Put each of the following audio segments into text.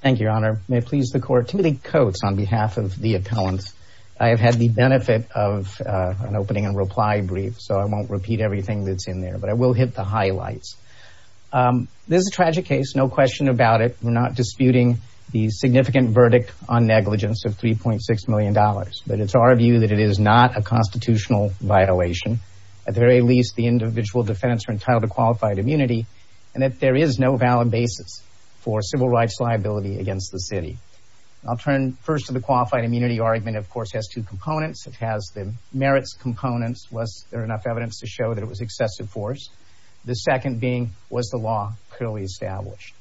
Thank you, Your Honor. May it please the Court, Timothy Coates on behalf of the appellant. I have had the benefit of an opening and reply brief, so I won't repeat everything that's in there, but I will hit the highlights. This is a tragic case, no question about it. We're not disputing the significant verdict on negligence of $3.6 million, but it's our view that it is not a constitutional violation. At the very least, the individual defendants are entitled to qualified immunity, and that there is no valid basis for civil rights liability against the city. I'll turn first to the qualified immunity argument. Of course, it has two components. It has the merits components, was there enough evidence to show that it was excessive force? The second being, was the law clearly established?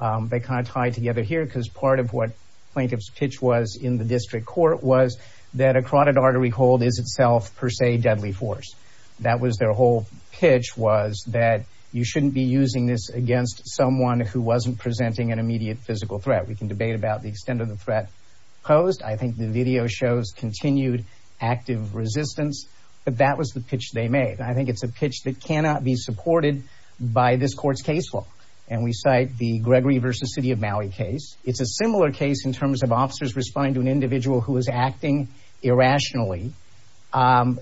They kind of tie together here, because part of what plaintiff's pitch was in the district court was that a carotid artery hold is itself, per se, deadly force. That was their whole pitch, was that you shouldn't be using this against someone who wasn't presenting an immediate physical threat. We can debate about the extent of the threat posed. I think the video shows continued active resistance, but that was the pitch they made. I think it's a pitch that cannot be supported by this court's case law, and we cite the Gregory versus City of Maui case. It's a similar case in terms of officers responding to an individual who was acting irrationally,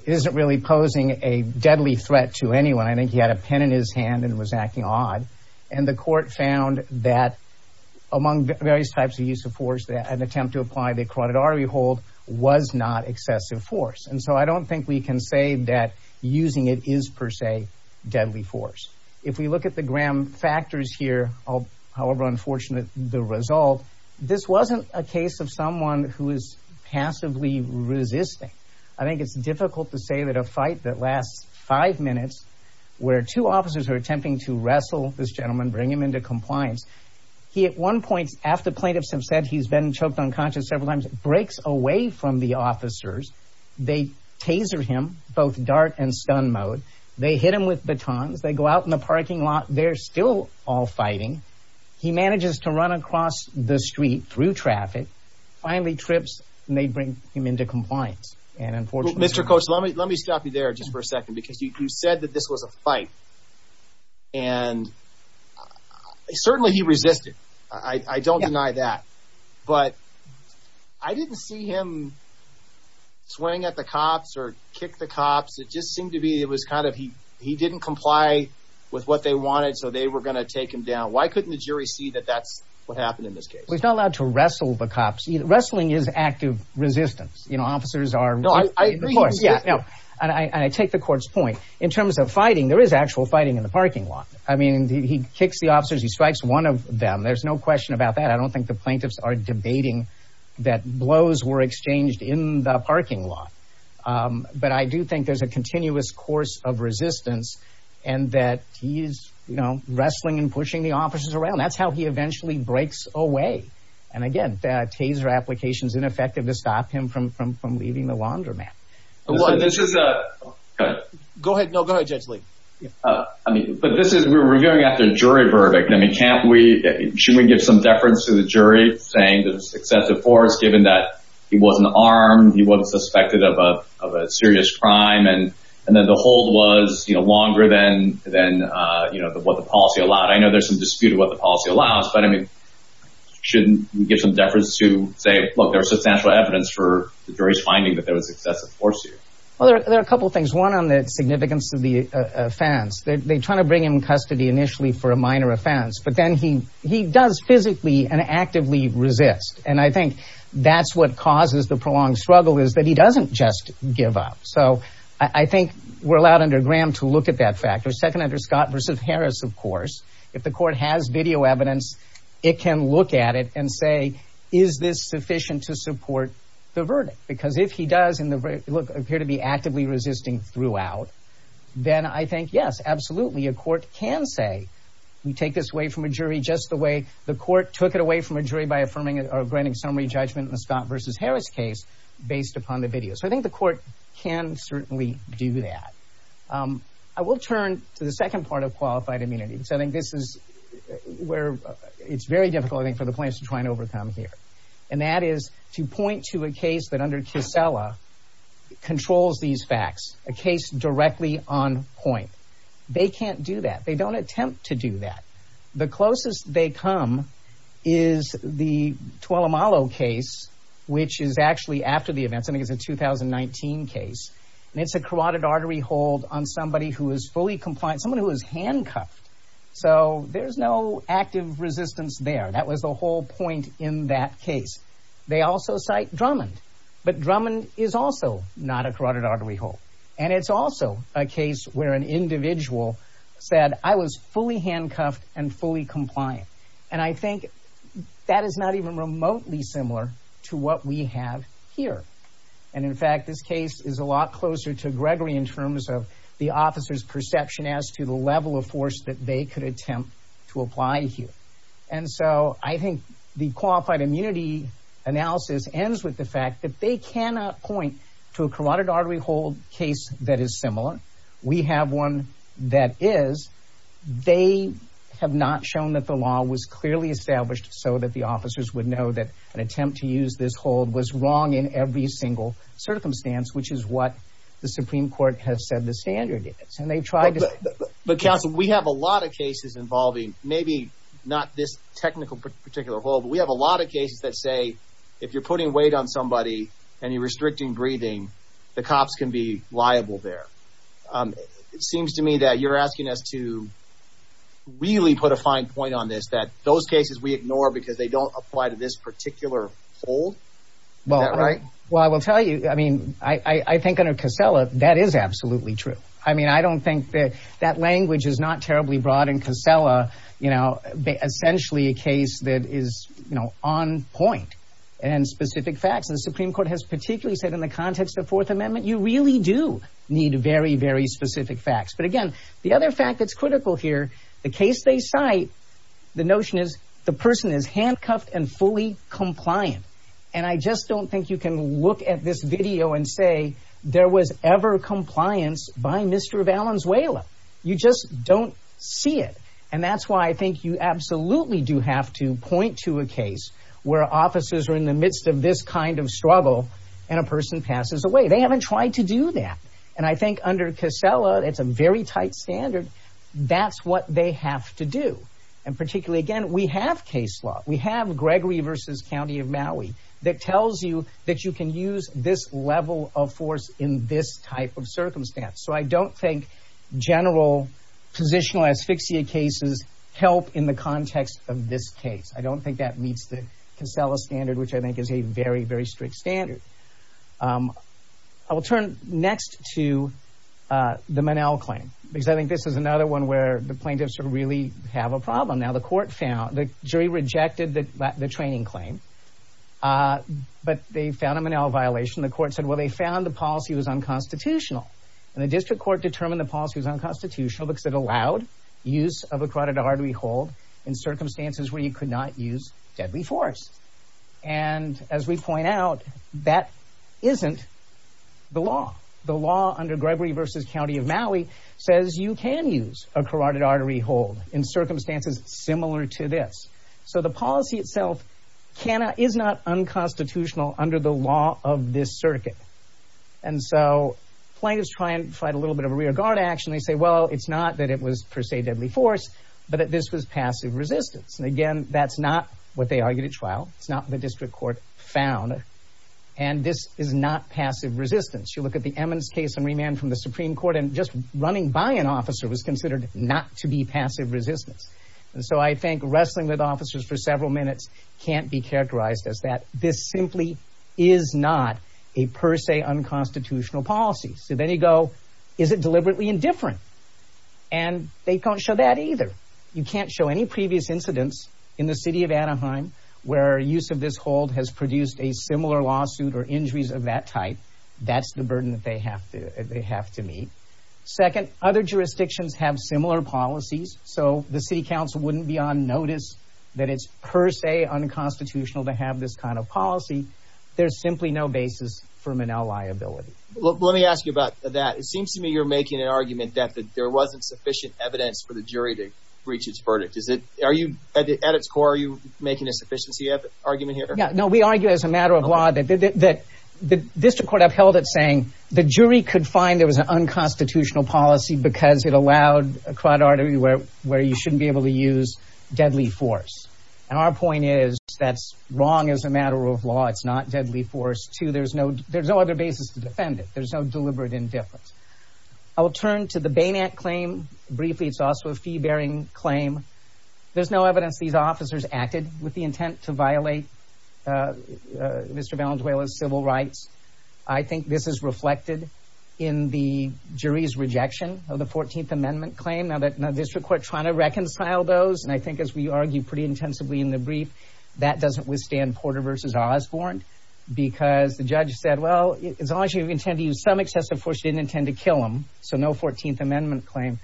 isn't really posing a deadly threat to anyone. I think he had a pen in his hand and was acting odd, and the court found that, among various types of use of force, that an attempt to apply the carotid artery hold was not excessive force. And so I don't think we can say that using it is, per se, deadly force. If we look at the Graham factors here, however unfortunate the result, this wasn't a case of someone who is passively resisting. I think it's difficult to say that a fight that lasts five minutes, where two officers are attempting to wrestle this gentleman, bring him into compliance. He, at one point, after plaintiffs have said he's been choked unconscious several times, breaks away from the officers. They taser him, both dart and stun mode. They hit him with batons. They go out in the parking lot. They're still all fighting. He manages to run across the street through traffic, finally trips, and they bring him into compliance. And unfortunately- Mr. Coach, let me stop you there just for a second, because you said that this was a fight. And certainly he resisted. I don't deny that. But I didn't see him swing at the cops or kick the cops. It just seemed to be, it was kind of, he didn't comply with what they wanted, so they were gonna take him down. Why couldn't the jury see that that's what happened in this case? Well, he's not allowed to wrestle the cops. Wrestling is active resistance. You know, officers are- No, I agree- Of course, yeah, and I take the court's point. In terms of fighting, there is actual fighting in the parking lot. I mean, he kicks the officers, he strikes one of them. There's no question about that. I don't think the plaintiffs are debating that blows were exchanged in the parking lot. But I do think there's a continuous course of resistance and that he's wrestling and pushing the officers around. That's how he eventually breaks away. And again, the taser application's ineffective to stop him from leaving the laundromat. Well, this is a- Go ahead, no, go ahead, Judge Lee. But this is, we're reviewing after a jury verdict. I mean, can't we, should we give some deference to the jury saying that it's excessive force given that he wasn't armed, he wasn't suspected of a serious crime, and then the hold was longer than what the policy allowed? I know there's some dispute of what the policy allows, but I mean, shouldn't we give some deference to say, look, there was substantial evidence for the jury's finding that there was excessive force here? Well, there are a couple of things. One, on the significance of the offense. They try to bring him in custody initially for a minor offense, but then he does physically and actively resist. And I think that's what causes the prolonged struggle is that he doesn't just give up. So I think we're allowed under Graham to look at that factor. Second, under Scott versus Harris, of course, if the court has video evidence, it can look at it and say, is this sufficient to support the verdict? Because if he does, and look, appear to be actively resisting throughout, then I think, yes, absolutely, a court can say, we take this away from a jury just the way the court took it away from a jury by affirming or granting summary judgment in the Scott versus Harris case based upon the video. So I think the court can certainly do that. I will turn to the second part of qualified immunity, because I think this is where it's very difficult, I think, for the plaintiffs to try and overcome here. And that is to point to a case that under Kissela controls these facts, a case directly on point. They can't do that. They don't attempt to do that. The closest they come is the Tuolumalo case, which is actually after the events. I think it's a 2019 case. And it's a carotid artery hold on somebody who is fully compliant, someone who is handcuffed. So there's no active resistance there. That was the whole point in that case. They also cite Drummond, but Drummond is also not a carotid artery hold. And it's also a case where an individual said, I was fully handcuffed and fully compliant. And I think that is not even remotely similar to what we have here. And in fact, this case is a lot closer to Gregory in terms of the officer's perception as to the level of force that they could attempt to apply here. And so I think the qualified immunity analysis ends with the fact that they cannot point to a carotid artery hold case that is similar. We have one that is. They have not shown that the law was clearly established so that the officers would know that an attempt to use this hold was wrong in every single circumstance, which is what the Supreme Court has said the standard is. And they've tried to- But counsel, we have a lot of cases involving maybe not this technical particular hold, but we have a lot of cases that say if you're putting weight on somebody and you're restricting breathing, the cops can be liable there. It seems to me that you're asking us to really put a fine point on this, that those cases we ignore because they don't apply to this particular hold. Is that right? Well, I will tell you, I mean, I think under Casella, that is absolutely true. I mean, I don't think that that language is not terribly broad in Casella, essentially a case that is on point and specific facts. And the Supreme Court has particularly said in the context of Fourth Amendment, you really do need very, very specific facts. But again, the other fact that's critical here, the case they cite, the notion is the person is handcuffed and fully compliant. And I just don't think you can look at this video and say there was ever compliance by Mr. Valenzuela. You just don't see it. And that's why I think you absolutely do have to point to a case where officers are in the midst of this kind of struggle and a person passes away. They haven't tried to do that. And I think under Casella, it's a very tight standard. That's what they have to do. And particularly again, we have case law. We have Gregory versus County of Maui that tells you that you can use this level of force in this type of circumstance. So I don't think general positional asphyxia cases help in the context of this case. I don't think that meets the Casella standard, which I think is a very, very strict standard. I will turn next to the Monell claim, because I think this is another one where the plaintiffs really have a problem. Now the court found, the jury rejected the training claim, but they found a Monell violation. The court said, well, they found the policy was unconstitutional. And the district court determined the policy was unconstitutional because it allowed use of a carotid artery hold in circumstances where you could not use deadly force. And as we point out, that isn't the law. The law under Gregory versus County of Maui says you can use a carotid artery hold in circumstances similar to this. So the policy itself is not unconstitutional under the law of this circuit. And so plaintiffs try and fight a little bit of a rear guard action. They say, well, it's not that it was per se deadly force, but that this was passive resistance. And again, that's not what they argued at trial. It's not what the district court found. And this is not passive resistance. You look at the Emmons case and remand from the Supreme Court and just running by an officer was considered not to be passive resistance. And so I think wrestling with officers for several minutes can't be characterized as that. This simply is not a per se unconstitutional policy. So then you go, is it deliberately indifferent? And they can't show that either. You can't show any previous incidents in the city of Anaheim where use of this hold has produced a similar lawsuit or injuries of that type. That's the burden that they have to meet. Second, other jurisdictions have similar policies. So the city council wouldn't be on notice that it's per se unconstitutional to have this kind of policy. There's simply no basis for Manel liability. Well, let me ask you about that. It seems to me you're making an argument that there wasn't sufficient evidence for the jury to reach its verdict. Is it, are you, at its core, are you making a sufficiency argument here? Yeah, no, we argue as a matter of law that the district court upheld it saying the jury could find there was an unconstitutional policy because it allowed a crud order where you shouldn't be able to use deadly force. And our point is that's wrong as a matter of law. It's not deadly force, too. There's no other basis to defend it. There's no deliberate indifference. I will turn to the Bain Act claim briefly. It's also a fee-bearing claim. There's no evidence these officers acted with the intent to violate Mr. Valenzuela's civil rights. I think this is reflected in the jury's rejection of the 14th Amendment claim. Now, the district court trying to reconcile those, and I think as we argue pretty intensively in the brief, that doesn't withstand Porter v. Osborne because the judge said, well, as long as you intend to use some excessive force, you didn't intend to kill him, so no 14th Amendment claim.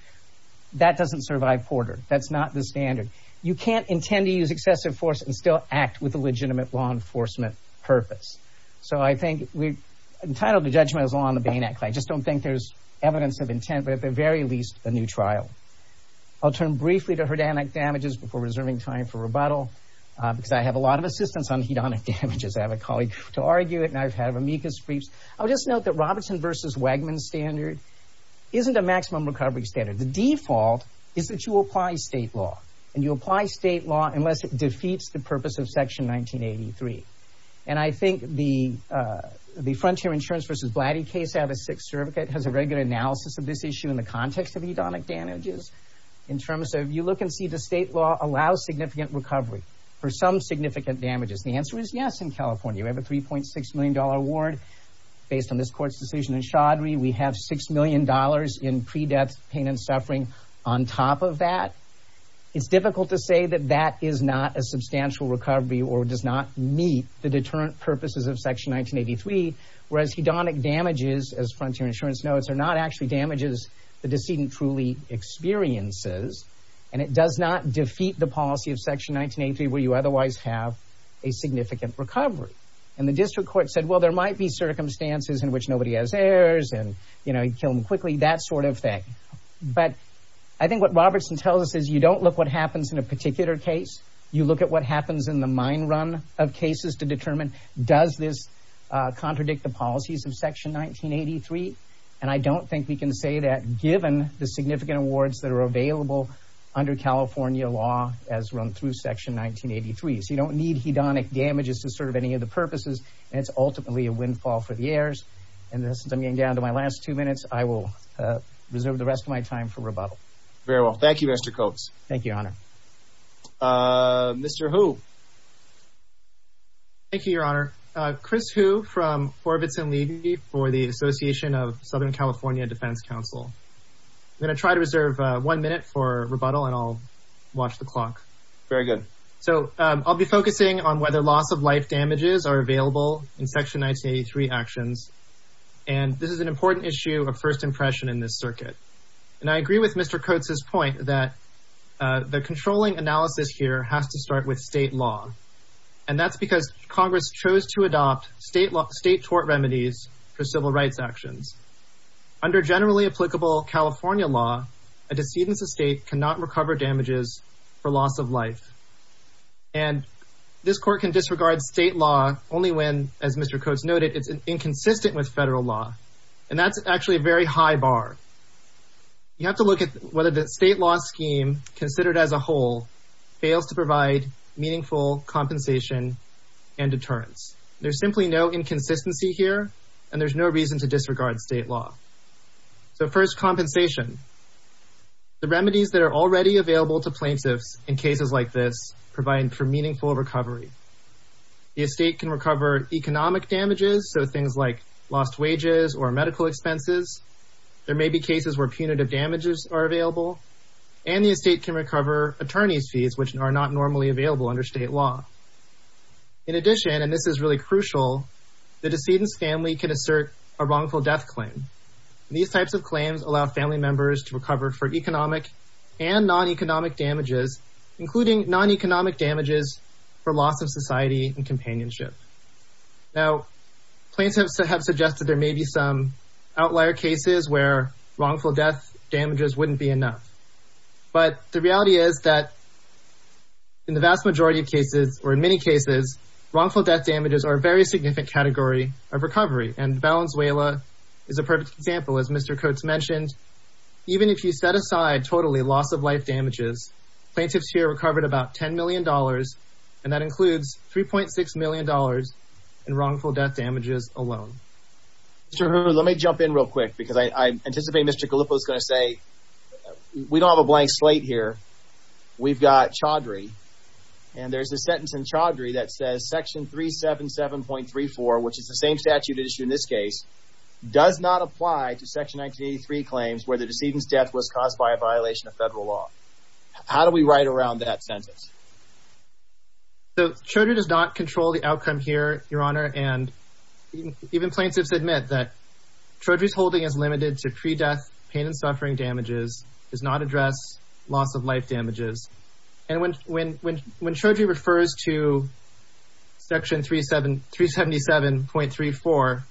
That doesn't survive Porter. That's not the standard. You can't intend to use excessive force and still act with a legitimate law enforcement purpose. So I think we're entitled to judgment as law on the Bain Act claim. I just don't think there's evidence of intent, but at the very least, a new trial. I'll turn briefly to herdanic damages before reserving time for rebuttal because I have a lot of assistance on hedonic damages. I have a colleague to argue it, and I've had amicus briefs. I'll just note that Robertson v. Wagman's standard isn't a maximum recovery standard. The default is that you apply state law, and you apply state law unless it defeats the purpose of Section 1983. And I think the Frontier Insurance v. Blatty case out of Sixth Circuit has a very good analysis of this issue in the context of hedonic damages in terms of you look and see the state law allows significant recovery for some significant damages. The answer is yes in California. We have a $3.6 million award based on this court's decision in Chaudhry. We have $6 million in pre-death pain and suffering on top of that. It's difficult to say that that is not a substantial recovery or does not meet the deterrent purposes of Section 1983, whereas hedonic damages, as Frontier Insurance notes, are not actually damages the decedent truly experiences, and it does not defeat the policy of Section 1983 where you otherwise have a significant recovery. And the district court said, well, there might be circumstances in which nobody has heirs and, you know, you kill them quickly, that sort of thing. But I think what Robertson tells us is you don't look what happens in a particular case. You look at what happens in the mine run of cases to determine does this contradict the policies of Section 1983. And I don't think we can say that given the significant awards that are available under California law as run through Section 1983. So you don't need hedonic damages to serve any of the purposes, and it's ultimately a windfall for the heirs. And since I'm getting down to my last two minutes, I will reserve the rest of my time for rebuttal. Very well. Thank you, Mr. Coates. Thank you, Your Honor. Mr. Hu. Thank you, Your Honor. Chris Hu from Orbitz & Levy for the Association of Southern California Defense Council. I'm going to try to reserve one minute for rebuttal and I'll watch the clock. Very good. So I'll be focusing on whether loss of life damages are available in Section 1983 actions. And this is an important issue of first impression in this circuit. And I agree with Mr. Coates' point that the controlling analysis here has to start with state law. And that's because Congress chose to adopt state tort remedies for civil rights actions. Under generally applicable California law, a decedent's estate cannot recover damages for loss of life. And this court can disregard state law only when, as Mr. Coates noted, it's inconsistent with federal law. And that's actually a very high bar. You have to look at whether the state law scheme, considered as a whole, fails to provide meaningful compensation and deterrence. There's simply no inconsistency here and there's no reason to disregard state law. So first, compensation. The remedies that are already available to plaintiffs in cases like this provide for meaningful recovery. The estate can recover economic damages, so things like lost wages or medical expenses. There may be cases where punitive damages are available. And the estate can recover attorney's fees, which are not normally available under state law. In addition, and this is really crucial, the decedent's family can assert a wrongful death claim. These types of claims allow family members to recover for economic and non-economic damages, including non-economic damages for loss of society and companionship. Now, plaintiffs have suggested there may be some outlier cases where wrongful death damages wouldn't be enough. But the reality is that in the vast majority of cases, or in many cases, wrongful death damages are a very significant category of recovery. And Valenzuela is a perfect example. As Mr. Coates mentioned, even if you set aside totally loss of life damages, plaintiffs here recovered about $10 million and that includes $3.6 million in wrongful death damages alone. Mr. Hu, let me jump in real quick because I anticipate Mr. Calippo's gonna say, we don't have a blank slate here. We've got Chaudhry. And there's a sentence in Chaudhry that says section 377.34, which is the same statute issued in this case, does not apply to section 1983 claims where the decedent's death was caused by a violation of federal law. How do we write around that sentence? So Chaudhry does not control the outcome here, Your Honor, and even plaintiffs admit that Chaudhry's holding is limited to pre-death pain and suffering damages, does not address loss of life damages. And when Chaudhry refers to section 377.34,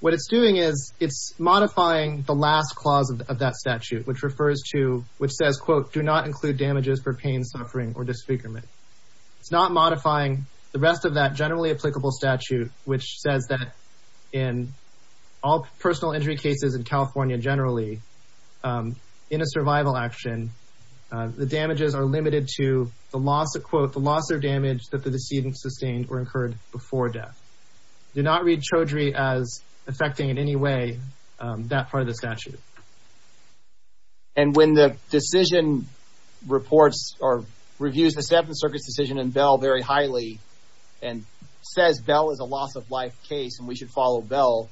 what it's doing is it's modifying the last clause of that statute, which refers to, which says, quote, do not include damages for pain, suffering, or disfigurement. It's not modifying the rest of that generally applicable statute, which says that in all personal injury cases in California generally, in a survival action, the damages are limited to the loss of, quote, the loss or damage that the decedent sustained or incurred before death. Do not read Chaudhry as affecting in any way that part of the statute. And when the decision reports or reviews the Seventh Circuit's decision in Bell very highly and says Bell is a loss of life case and we should follow Bell,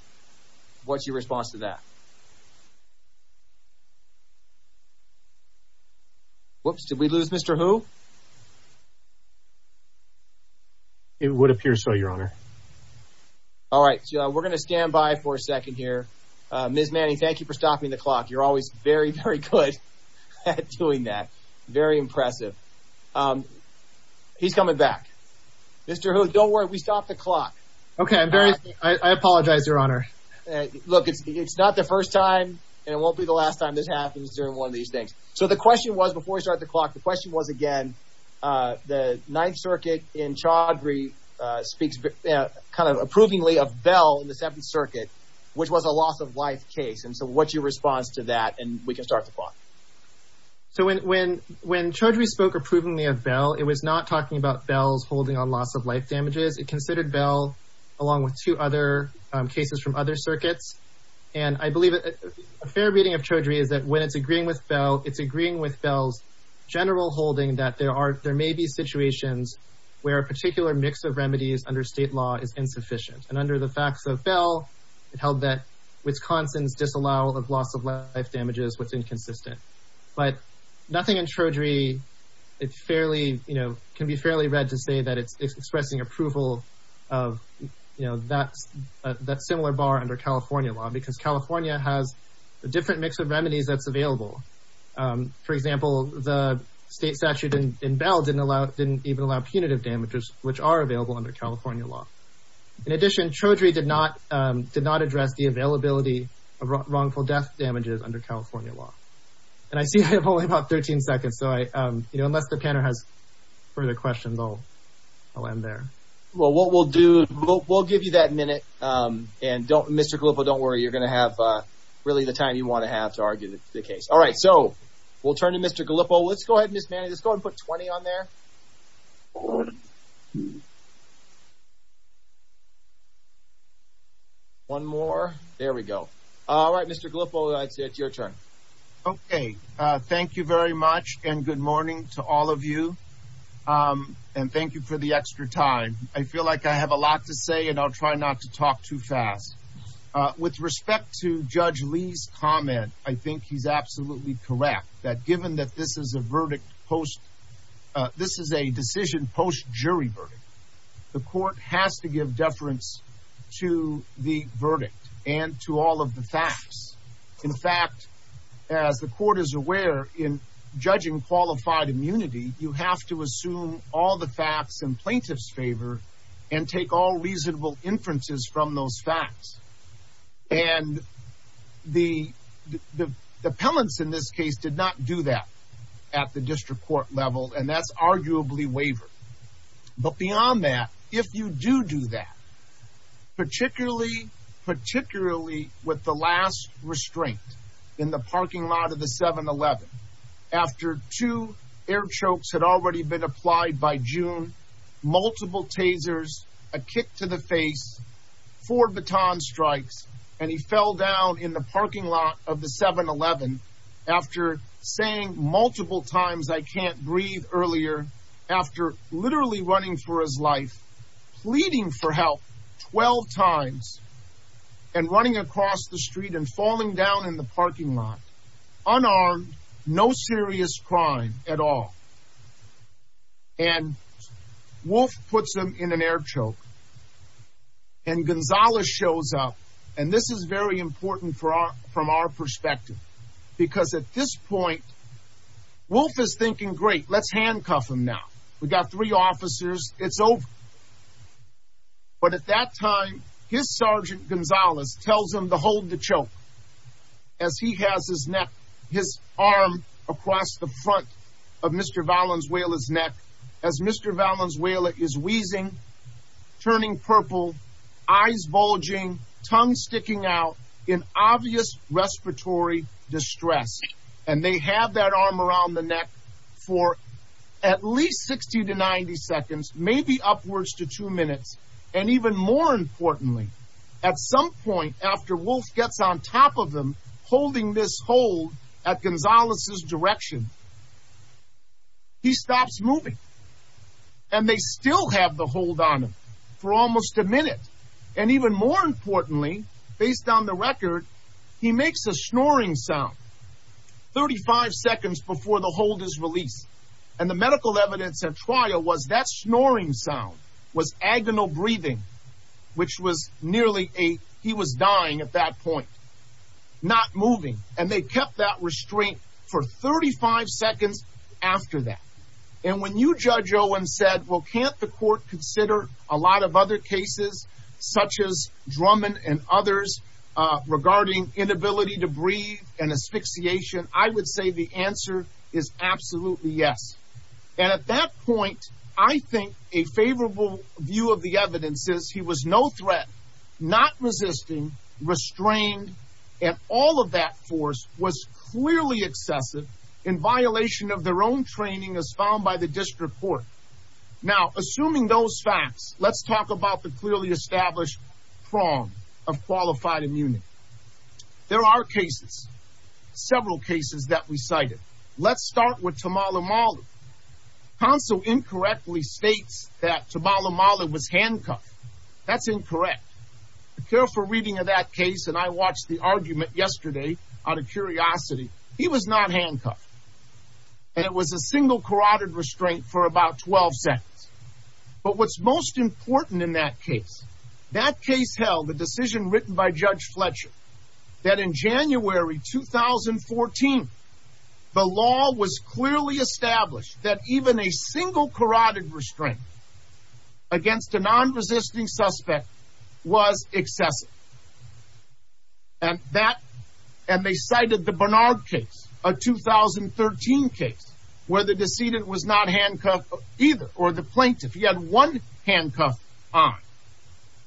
what's your response to that? Whoops, did we lose Mr. Hu? It would appear so, Your Honor. All right, we're gonna stand by for a second here. Ms. Manning, thank you for stopping the clock. You're always very, very good at doing that. Very impressive. He's coming back. Mr. Hu, don't worry, we stopped the clock. Okay, I'm very, I apologize, Your Honor. Look, it's not the first time and it won't be the last time this happens during one of these things. So the question was, before we start the clock, the question was again, the Ninth Circuit in Chaudhry speaks kind of approvingly of Bell in the Seventh Circuit, which was a loss of life case. And so what's your response to that? And we can start the clock. So when Chaudhry spoke approvingly of Bell, it was not talking about Bell's holding on loss of life damages. It considered Bell along with two other cases from other circuits. And I believe a fair reading of Chaudhry is that when it's agreeing with Bell, it's agreeing with Bell's general holding that there may be situations where a particular mix of remedies under state law is insufficient. And under the facts of Bell, it held that Wisconsin's disallow of loss of life damages was inconsistent. But nothing in Chaudhry can be fairly read to say that it's expressing approval of that similar bar under California law, because California has a different mix of remedies that's available. For example, the state statute in Bell didn't even allow punitive damages, which are available under California law. In addition, Chaudhry did not address the availability of wrongful death damages under California law. And I see I have only about 13 seconds. So unless the panel has further questions, I'll end there. Well, what we'll do, we'll give you that minute. And Mr. Gallipo, don't worry, you're gonna have really the time you wanna have to argue the case. All right, so we'll turn to Mr. Gallipo. Let's go ahead, Ms. Manning, let's go and put 20 on there. One, two. One more, there we go. All right, Mr. Gallipo, it's your turn. Okay, thank you very much. And good morning to all of you. And thank you for the extra time. I feel like I have a lot to say and I'll try not to talk too fast. With respect to Judge Lee's comment, I think he's absolutely correct that given that this is a verdict post, this is a decision post jury verdict, the court has to give deference to the verdict and to all of the facts. In fact, as the court is aware in judging qualified immunity, you have to assume all the facts in plaintiff's favor and take all reasonable inferences from those facts. And the appellants in this case did not do that at the district court level, and that's arguably waivered. But beyond that, if you do do that, particularly with the last restraint in the parking lot of the 7-Eleven, after two air chokes had already been applied by June, multiple tasers, a kick to the face, four baton strikes, and he fell down in the parking lot of the 7-Eleven after saying multiple times, I can't breathe earlier, after literally running for his life, pleading for help 12 times and running across the street and falling down in the parking lot, unarmed, no serious crime at all. And Wolf puts him in an air choke and Gonzales shows up. And this is very important from our perspective. Because at this point, Wolf is thinking, great, let's handcuff him now. We've got three officers, it's over. But at that time, his Sergeant Gonzales tells him to hold the choke as he has his arm across the front of Mr. Valenzuela's neck, as Mr. Valenzuela is wheezing, turning purple, eyes bulging, tongue sticking out in obvious respiratory distress. And they have that arm around the neck for at least 60 to 90 seconds, maybe upwards to two minutes. And even more importantly, at some point after Wolf gets on top of them, holding this hold at Gonzales' direction, he stops moving. And they still have the hold on him for almost a minute. And even more importantly, based on the record, he makes a snoring sound 35 seconds before the hold is released. And the medical evidence at trial was that snoring sound was agonal breathing, which was nearly a, he was dying at that point, not moving. And they kept that restraint for 35 seconds after that. And when you, Judge Owen, said, well, can't the court consider a lot of other cases, such as Drummond and others, regarding inability to breathe and asphyxiation? I would say the answer is absolutely yes. And at that point, I think a favorable view of the evidence is he was no threat, not resisting, restrained. And all of that force was clearly excessive in violation of their own training as found by the district court. Now, assuming those facts, let's talk about the clearly established prong of qualified immunity. There are cases, several cases that we cited. Let's start with Tamala Mallard. Counsel incorrectly states that Tamala Mallard was handcuffed. That's incorrect. A careful reading of that case, and I watched the argument yesterday out of curiosity, he was not handcuffed. And it was a single carotid restraint for about 12 seconds. But what's most important in that case, that case held the decision written by Judge Fletcher, that in January, 2014, the law was clearly established that even a single carotid restraint against a non-resisting suspect was excessive. And that, and they cited the Bernard case, a 2013 case, where the decedent was not handcuffed either, or the plaintiff, he had one handcuff on.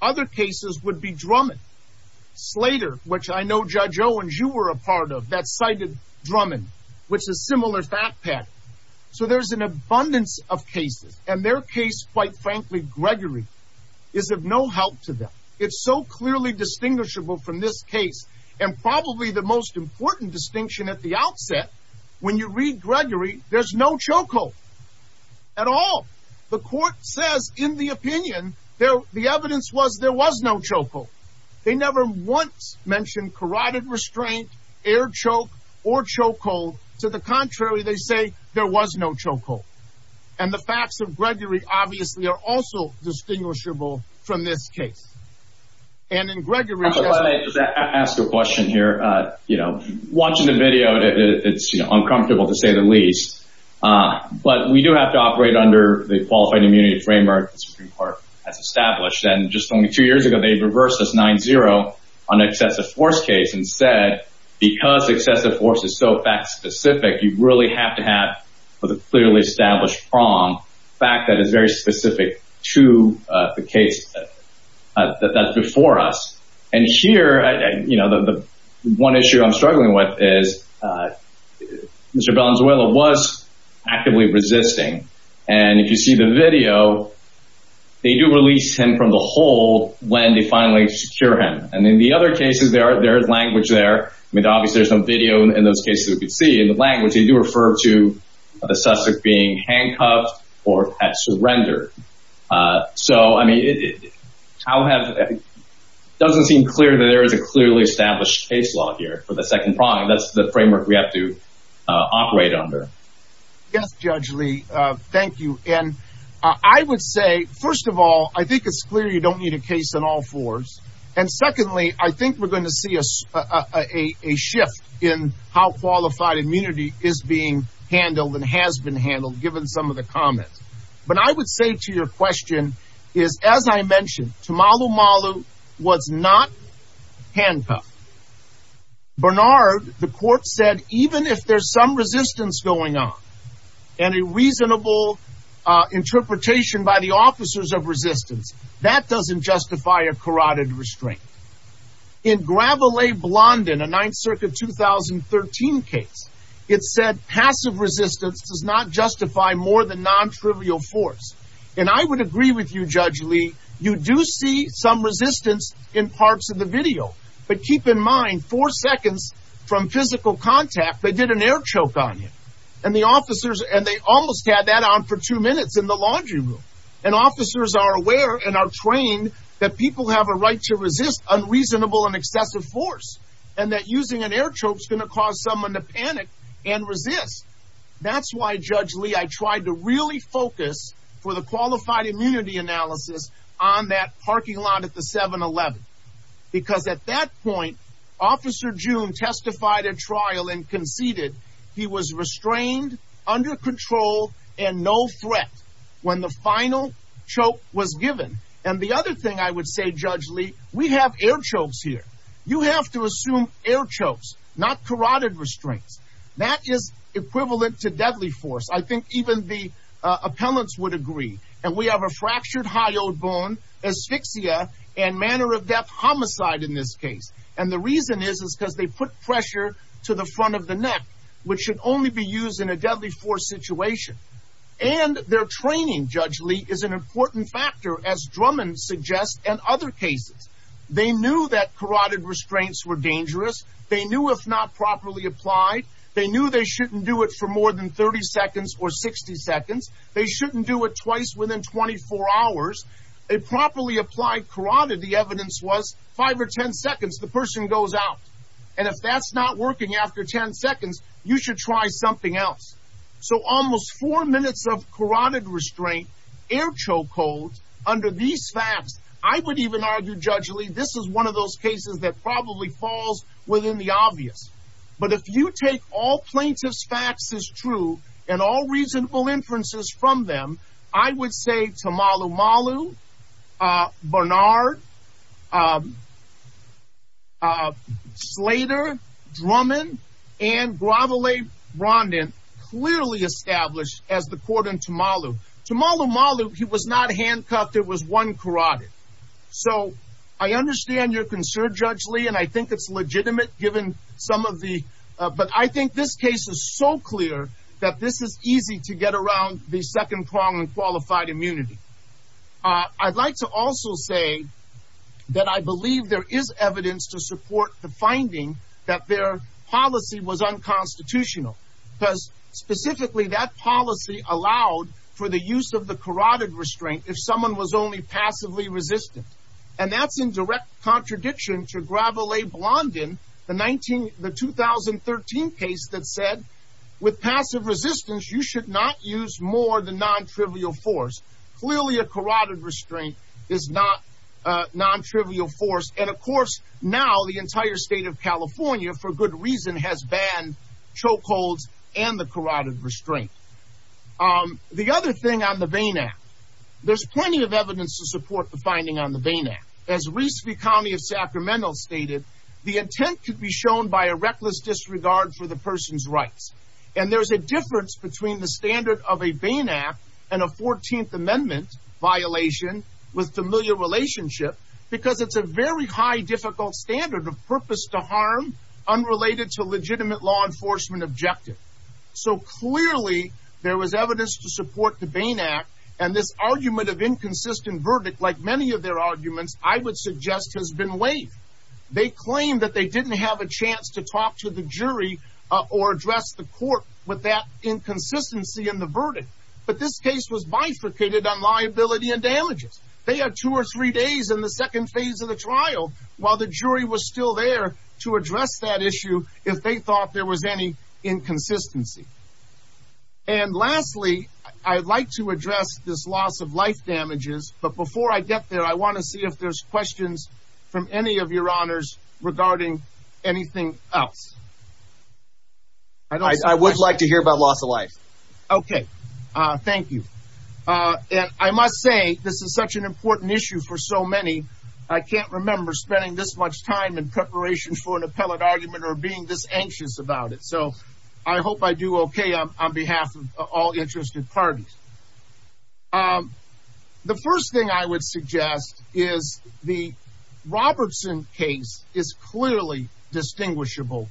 Other cases would be Drummond, Slater, which I know Judge Owens, you were a part of, that cited Drummond, which is similar fact pattern. So there's an abundance of cases, and their case, quite frankly, Gregory, is of no help to them. It's so clearly distinguishable from this case, and probably the most important distinction at the outset, when you read Gregory, there's no choke hold at all. The court says, in the opinion, the evidence was there was no choke hold. They never once mentioned carotid restraint, air choke, or choke hold. To the contrary, they say there was no choke hold. And the facts of Gregory, obviously, are also distinguishable from this case. And in Gregory- I just wanna ask a question here. Watching the video, it's uncomfortable, to say the least. But we do have to operate under the Qualified Immunity Framework the Supreme Court has established. And just only two years ago, they reversed this 9-0 on an excessive force case, and said, because excessive force is so fact-specific, you really have to have, with a clearly established prong, fact that is very specific to the case that's before us. And here, the one issue I'm struggling with is, Mr. Belanzuela was actively resisting. And if you see the video, they do release him from the hold when they finally secure him. And in the other cases, there is language there. I mean, obviously, there's no video in those cases we could see. In the language, they do refer to the suspect being handcuffed or had surrendered. So, I mean, it doesn't seem clear that there is a clearly established case law here for the second prong. That's the framework we have to operate under. Yes, Judge Lee, thank you. And I would say, first of all, I think it's clear you don't need a case on all fours. And secondly, I think we're going to see a shift in how Qualified Immunity is being handled and has been handled, given some of the comments. But I would say to your question is, as I mentioned, Tamalu Malu was not handcuffed. Bernard, the court said, even if there's some resistance going on and a reasonable interpretation by the officers of resistance, that doesn't justify a carotid restraint. In Gravelay Blondin, a Ninth Circuit 2013 case, it said passive resistance does not justify more than non-trivial force. And I would agree with you, Judge Lee, you do see some resistance in parts of the video. But keep in mind, four seconds from physical contact, they did an air choke on you. And the officers, and they almost had that on for two minutes in the laundry room. And officers are aware and are trained that people have a right to resist unreasonable and excessive force. And that using an air choke's gonna cause someone to panic and resist. That's why, Judge Lee, I tried to really focus for the qualified immunity analysis on that parking lot at the 7-Eleven. Because at that point, Officer June testified at trial and conceded he was restrained, under control, and no threat when the final choke was given. And the other thing I would say, Judge Lee, we have air chokes here. You have to assume air chokes, not carotid restraints. That is equivalent to deadly force. I think even the appellants would agree. And we have a fractured hyoid bone, asphyxia, and manner of death homicide in this case. And the reason is, is because they put pressure to the front of the neck, which should only be used in a deadly force situation. And their training, Judge Lee, is an important factor, as Drummond suggests, and other cases. They knew that carotid restraints were dangerous. They knew if not properly applied. They knew they shouldn't do it for more than 30 seconds or 60 seconds. They shouldn't do it twice within 24 hours. A properly applied carotid, the evidence was, five or 10 seconds, the person goes out. And if that's not working after 10 seconds, you should try something else. So almost four minutes of carotid restraint, air choke hold, under these facts, I would even argue, Judge Lee, this is one of those cases that probably falls within the obvious. But if you take all plaintiff's facts as true, and all reasonable inferences from them, I would say Tamalu Malu, Bernard, Slater, Drummond, and Gravelay-Rondin, clearly established as the court in Tamalu. Tamalu Malu, he was not handcuffed, it was one carotid. So I understand your concern, Judge Lee, and I think it's legitimate given some of the, but I think this case is so clear that this is easy to get around the second prong in qualified immunity. I'd like to also say that I believe there is evidence to support the finding that their policy was unconstitutional. Because specifically that policy allowed for the use of the carotid restraint if someone was only passively resistant. And that's in direct contradiction to Gravelay-Rondin, the 2013 case that said, with passive resistance, you should not use more than non-trivial force. Clearly a carotid restraint is not a non-trivial force. And of course, now the entire state of California, for good reason, has banned chokeholds and the carotid restraint. The other thing on the Bain Act, there's plenty of evidence to support the finding on the Bain Act. As Reese v. County of Sacramento stated, the intent could be shown by a reckless disregard for the person's rights. And there's a difference between the standard of a Bain Act and a 14th Amendment violation with familiar relationship, because it's a very high difficult standard of purpose to harm unrelated to legitimate law enforcement objective. So clearly there was evidence to support the Bain Act and this argument of inconsistent verdict, like many of their arguments, I would suggest has been waived. They claim that they didn't have a chance to talk to the jury or address the court with that inconsistency in the verdict. But this case was bifurcated on liability and damages. They had two or three days in the second phase of the trial while the jury was still there to address that issue if they thought there was any inconsistency. And lastly, I'd like to address this loss of life damages, but before I get there, I wanna see if there's questions from any of your honors regarding anything else. I would like to hear about loss of life. Okay. Thank you. And I must say, this is such an important issue for so many. I can't remember spending this much time in preparation for an appellate argument or being this anxious about it. So I hope I do okay on behalf of all interested parties. The first thing I would suggest is the Robertson case is clearly distinguishable,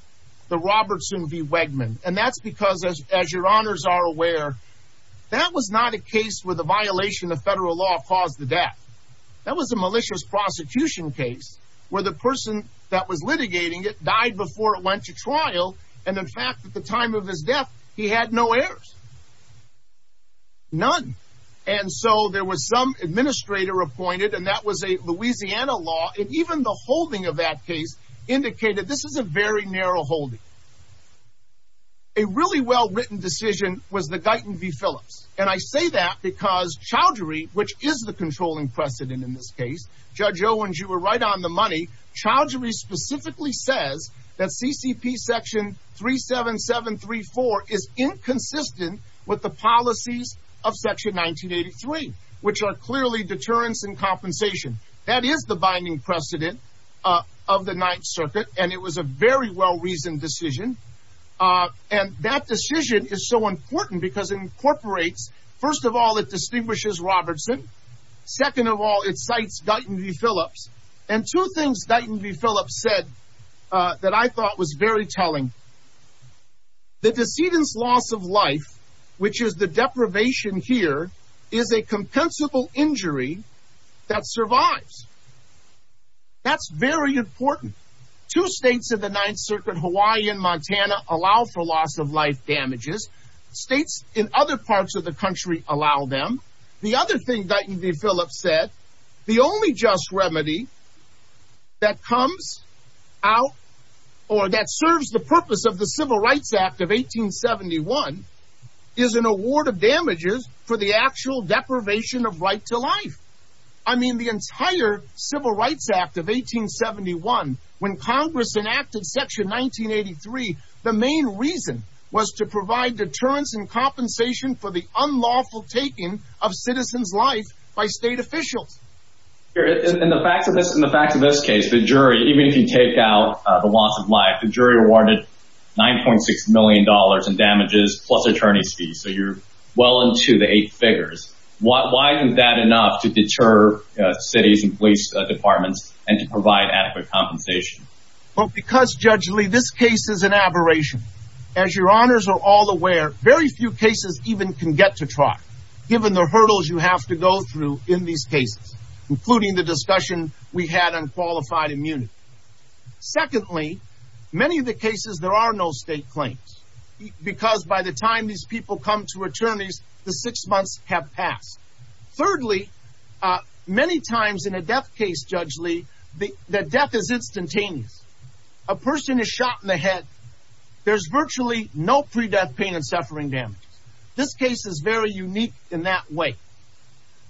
the Robertson v. Wegman. And that's because as your honors are aware, that was not a case where the violation of federal law caused the death. That was a malicious prosecution case where the person that was litigating it died before it went to trial. And in fact, at the time of his death, he had no heirs. None. And so there was some administrator appointed and that was a Louisiana law. And even the holding of that case indicated this is a very narrow holding. A really well-written decision was the Guyton v. Phillips. And I say that because Chowdhury, which is the controlling precedent in this case, Judge Owens, you were right on the money. Chowdhury specifically says that CCP section 37734 is inconsistent with the policies of section 1983, which are clearly deterrence and compensation. That is the binding precedent of the Ninth Circuit. And it was a very well-reasoned decision. And that decision is so important because it incorporates, first of all, it distinguishes Robertson. Second of all, it cites Guyton v. Phillips. And two things Guyton v. Phillips said that I thought was very telling. The decedent's loss of life, which is the deprivation here, is a compensable injury that survives. That's very important. Two states of the Ninth Circuit, Hawaii and Montana, allow for loss of life damages. States in other parts of the country allow them. The other thing Guyton v. Phillips said, the only just remedy that comes out or that serves the purpose of the Civil Rights Act of 1871 is an award of damages for the actual deprivation of right to life. I mean, the entire Civil Rights Act of 1871, when Congress enacted section 1983, the main reason was to provide deterrence and compensation for the unlawful taking of citizens' life by state officials. In the facts of this case, the jury, even if you take out the loss of life, the jury awarded $9.6 million in damages plus attorney's fees. So you're well into the eight figures. Why isn't that enough to deter cities and police departments and to provide adequate compensation? Well, because Judge Lee, this case is an aberration. As your honors are all aware, very few cases even can get to trial, given the hurdles you have to go through in these cases, including the discussion we had on qualified immunity. Secondly, many of the cases, there are no state claims, because by the time these people come to attorneys, the six months have passed. Thirdly, many times in a death case, Judge Lee, the death is instantaneous. A person is shot in the head. There's virtually no pre-death pain and suffering damage. This case is very unique in that way.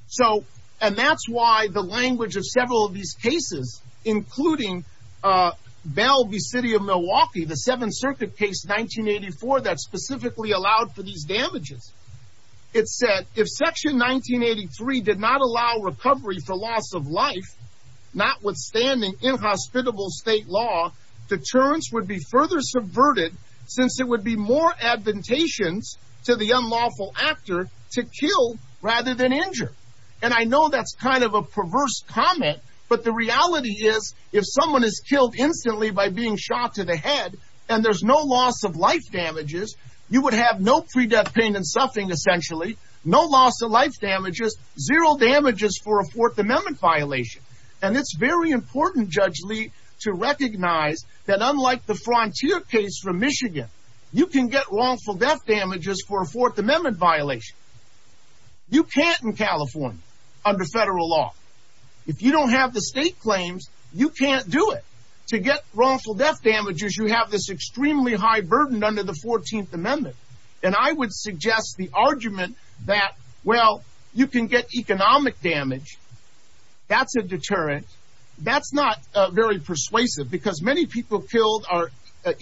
So, and that's why the language of several of these cases, including Bell v. City of Milwaukee, the Seventh Circuit case, 1984, that specifically allowed for these damages. It said, if section 1983 did not allow recovery for loss of life, notwithstanding inhospitable state law, deterrence would be further subverted since it would be more admonitions to the unlawful actor to kill rather than injure. And I know that's kind of a perverse comment, but the reality is, if someone is killed instantly by being shot to the head, and there's no loss of life damages, you would have no pre-death pain and suffering, essentially, no loss of life damages, zero damages for a Fourth Amendment violation. And it's very important, Judge Lee, to recognize that unlike the Frontier case from Michigan, you can get wrongful death damages for a Fourth Amendment violation. You can't in California under federal law. If you don't have the state claims, you can't do it. To get wrongful death damages, you have this extremely high burden under the 14th Amendment. And I would suggest the argument that, well, you can get economic damage, that's a deterrent. That's not very persuasive, because many people killed are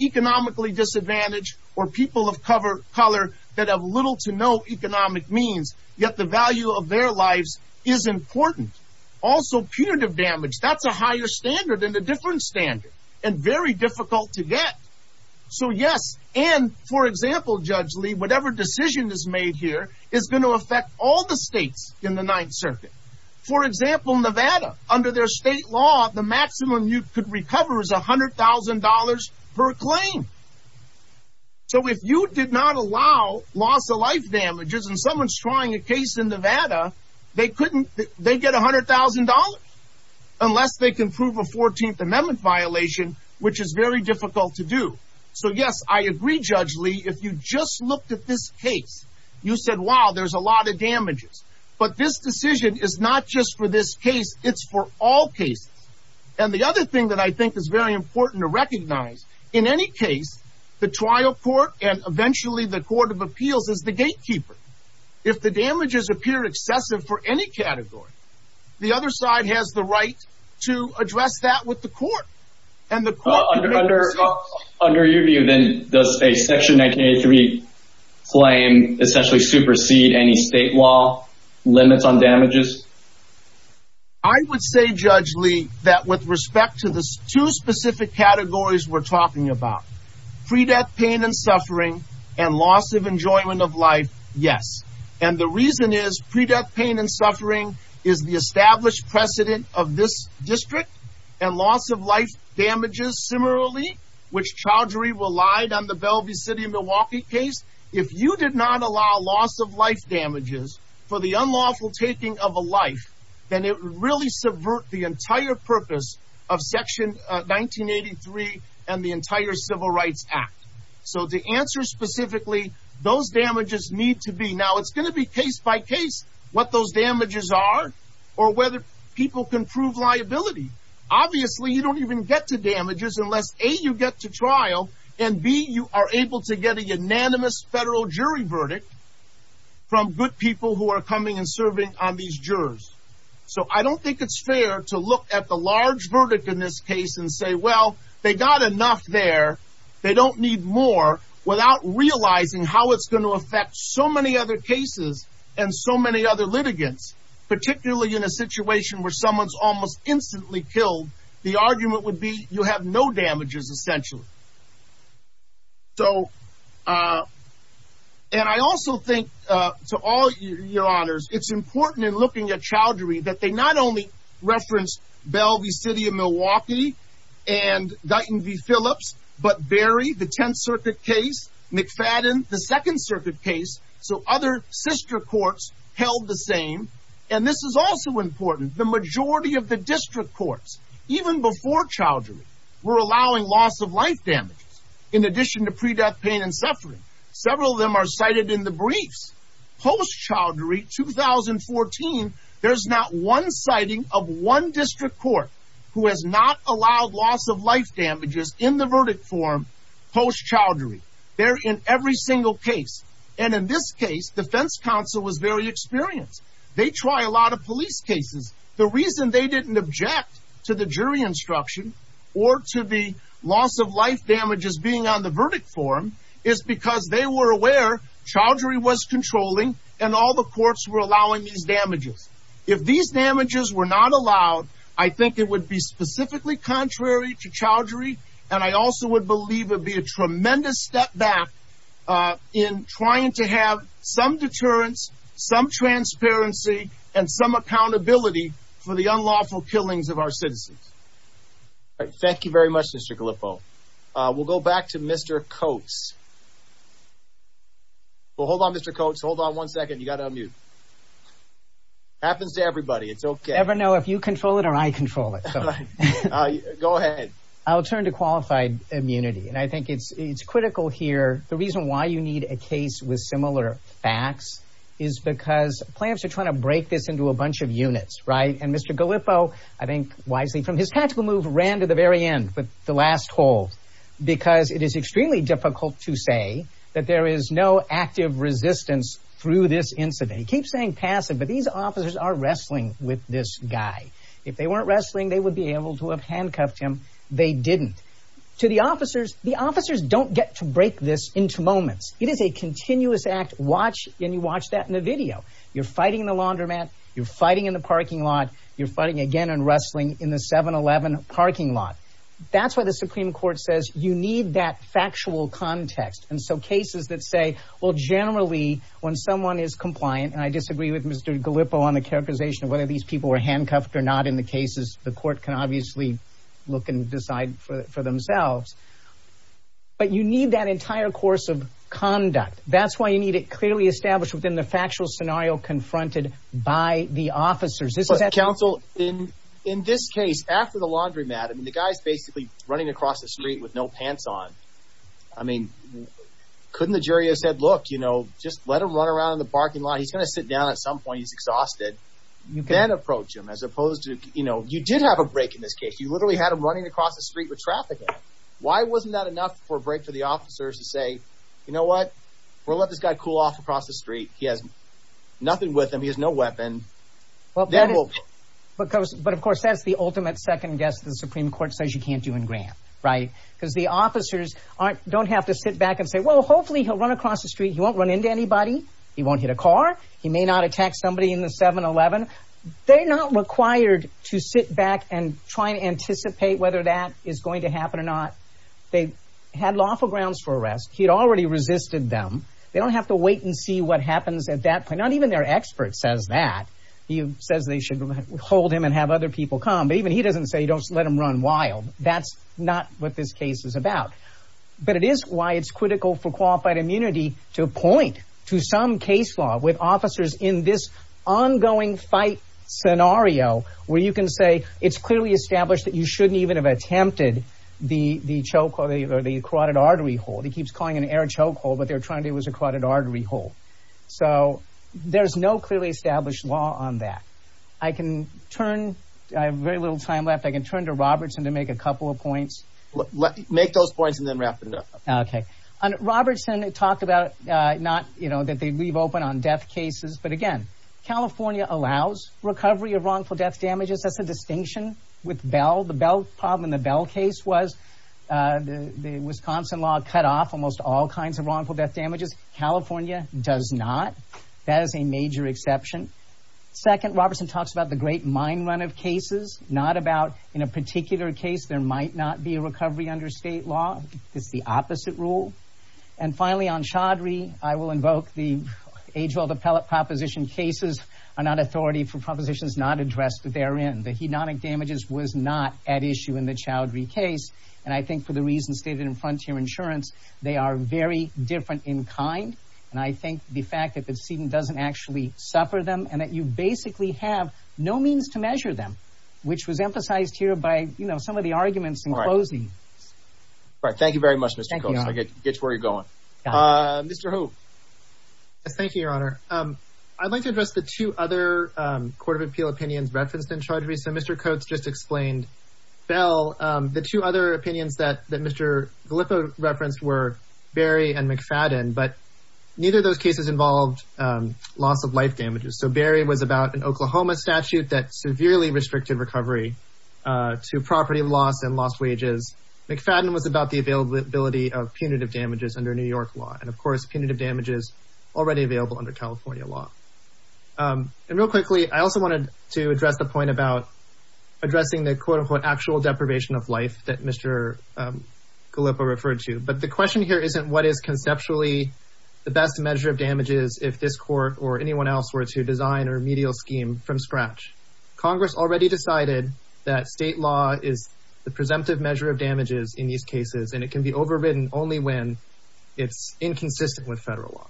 economically disadvantaged or people of color that have little to no economic means, yet the value of their lives is important. Also punitive damage, that's a higher standard and a different standard and very difficult to get. So yes, and for example, Judge Lee, whatever decision is made here is going to affect all the states in the Ninth Circuit. For example, Nevada, under their state law, the maximum you could recover is $100,000 per claim. So if you did not allow loss of life damages and someone's trying a case in Nevada, they get $100,000, unless they can prove a 14th Amendment violation, which is very difficult to do. So yes, I agree, Judge Lee, if you just looked at this case, you said, wow, there's a lot of damages. But this decision is not just for this case, it's for all cases. And the other thing that I think is very important to recognize, in any case, the trial court and eventually the Court of Appeals is the gatekeeper. If the damages appear excessive for any category, the other side has the right to address that with the court. And the court- Under your view, then, does a Section 1983 claim essentially supersede any state law limits on damages? I would say, Judge Lee, that with respect to the two specific categories we're talking about, pre-death pain and suffering and loss of enjoyment of life, yes. And the reason is, pre-death pain and suffering is the established precedent of this district and loss of life damages, similarly, which Chowdhury relied on the Bellevue City, Milwaukee case. If you did not allow loss of life damages for the unlawful taking of a life, then it would really subvert the entire purpose of Section 1983 and the entire Civil Rights Act. So to answer specifically, those damages need to be- Now, it's gonna be case by case what those damages are or whether people can prove liability. Obviously, you don't even get to damages unless A, you get to trial, and B, you are able to get a unanimous federal jury verdict from good people who are coming and serving on these jurors. So I don't think it's fair to look at the large verdict in this case and say, well, they got enough there, they don't need more, without realizing how it's gonna affect so many other cases and so many other litigants, particularly in a situation where someone's almost instantly killed, the argument would be you have no damages, essentially. And I also think, to all your honors, it's important in looking at chowdhury that they not only reference Bell v. City of Milwaukee and Guyton v. Phillips, but Berry, the Tenth Circuit case, McFadden, the Second Circuit case, so other sister courts held the same. And this is also important, the majority of the district courts, even before chowdhury, were allowing loss of life damages in addition to pre-death pain and suffering. Several of them are cited in the briefs. Post-chowdhury, 2014, there's not one citing of one district court who has not allowed loss of life damages in the verdict form post-chowdhury. They're in every single case. And in this case, defense counsel was very experienced. They try a lot of police cases. The reason they didn't object to the jury instruction or to the loss of life damages being on the verdict form is because they were aware chowdhury was controlling and all the courts were allowing these damages. If these damages were not allowed, I think it would be specifically contrary to chowdhury. And I also would believe it'd be a tremendous step back in trying to have some deterrence, some transparency, and some accountability for the unlawful killings of our citizens. All right, thank you very much, Mr. Gallipoli. We'll go back to Mr. Coates. Well, hold on, Mr. Coates. Hold on one second. You gotta unmute. Happens to everybody. It's okay. Never know if you control it or I control it, so. Go ahead. I'll turn to qualified immunity. And I think it's critical here. The reason why you need a case with similar facts is because plaintiffs are trying to break this into a bunch of units, right? And Mr. Gallipoli, I think wisely, from his tactical move, ran to the very end with the last hole, because it is extremely difficult to say that there is no active resistance through this incident. He keeps saying passive, but these officers are wrestling with this guy. If they weren't wrestling, they would be able to have handcuffed him. They didn't. To the officers, the officers don't get to break this into moments. It is a continuous act. Watch, and you watch that in the video. You're fighting in the laundromat. You're fighting in the parking lot. You're fighting again and wrestling in the 7-Eleven parking lot. That's why the Supreme Court says you need that factual context. And so cases that say, well, generally, when someone is compliant, and I disagree with Mr. Gallipoli on the characterization of whether these people were handcuffed or not in the cases, the court can obviously look and decide for themselves. But you need that entire course of conduct. That's why you need it clearly established within the factual scenario confronted by the officers. This is actually- But counsel, in this case, after the laundromat, the guy's basically running across the street with no pants on. I mean, couldn't the jury have said, look, just let him run around in the parking lot. He's gonna sit down at some point. He's exhausted. You can't approach him as opposed to, you did have a break in this case. You literally had him running across the street with traffic. Why wasn't that enough for a break for the officers to say, you know what? We'll let this guy cool off across the street. He has nothing with him. He has no weapon. Well, then we'll- But of course, that's the ultimate second guess the Supreme Court says you can't do in Grant, right? Because the officers don't have to sit back and say, well, hopefully he'll run across the street. He won't run into anybody. He won't hit a car. He may not attack somebody in the 7-Eleven. They're not required to sit back and try and anticipate whether that is going to happen or not. They had lawful grounds for arrest. He'd already resisted them. They don't have to wait and see what happens at that point. Not even their expert says that. He says they should hold him and have other people come. But even he doesn't say you don't let him run wild. That's not what this case is about. But it is why it's critical for qualified immunity to point to some case law with officers in this ongoing fight scenario where you can say, it's clearly established that you shouldn't even have attempted the chokehold or the carotid artery hold. He keeps calling it an air chokehold, but they're trying to do it as a carotid artery hold. So there's no clearly established law on that. I can turn, I have very little time left, I can turn to Robertson to make a couple of points. Make those points and then wrap it up. Okay. And Robertson talked about, not that they leave open on death cases, but again, California allows recovery of wrongful death damages. That's a distinction with Bell. The Bell problem in the Bell case was the Wisconsin law cut off almost all kinds of wrongful death damages. California does not. That is a major exception. Second, Robertson talks about the great mine run of cases, not about in a particular case, there might not be a recovery under state law. It's the opposite rule. And finally on Chaudhry, I will invoke the age-old appellate proposition, cases are not authority for propositions not addressed therein. The hedonic damages was not at issue in the Chaudhry case. And I think for the reasons stated in Frontier Insurance, they are very different in kind. And I think the fact that the student doesn't actually suffer them and that you basically have no means to measure them, which was emphasized here by some of the arguments in closing. All right, thank you very much, Mr. Coates. Thank you, Your Honor. I'll get to where you're going. Mr. Hou. Yes, thank you, Your Honor. I'd like to address the two other Court of Appeal opinions referenced in Chaudhry. So Mr. Coates just explained Bell. The two other opinions that Mr. Gallipo referenced were Berry and McFadden, but neither of those cases involved loss of life damages. So Berry was about an Oklahoma statute that severely restricted recovery to property loss and lost wages. McFadden was about the availability of punitive damages under New York law. And of course, punitive damages already available under California law. And real quickly, I also wanted to address the point about addressing the quote-unquote actual deprivation of life that Mr. Gallipo referred to. But the question here isn't what is conceptually the best measure of damages if this court or anyone else were to design a remedial scheme from scratch. Congress already decided that state law is the presumptive measure of damages in these cases, and it can be overridden only when it's inconsistent with federal law.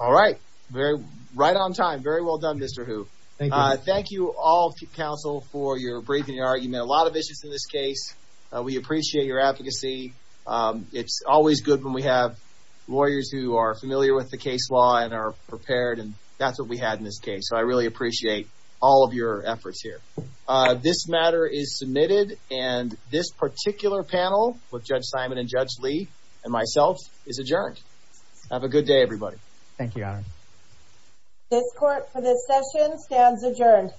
All right, right on time. Very well done, Mr. Hou. Thank you all, counsel, for your briefing, your argument, a lot of issues in this case. We appreciate your advocacy. It's always good when we have lawyers who are familiar with the case law and are prepared, and that's what we had in this case. So I really appreciate all of your efforts here. This matter is submitted, and this particular panel with Judge Simon and Judge Lee and myself is adjourned. Have a good day, everybody. Thank you, Your Honor. This court for this session stands adjourned.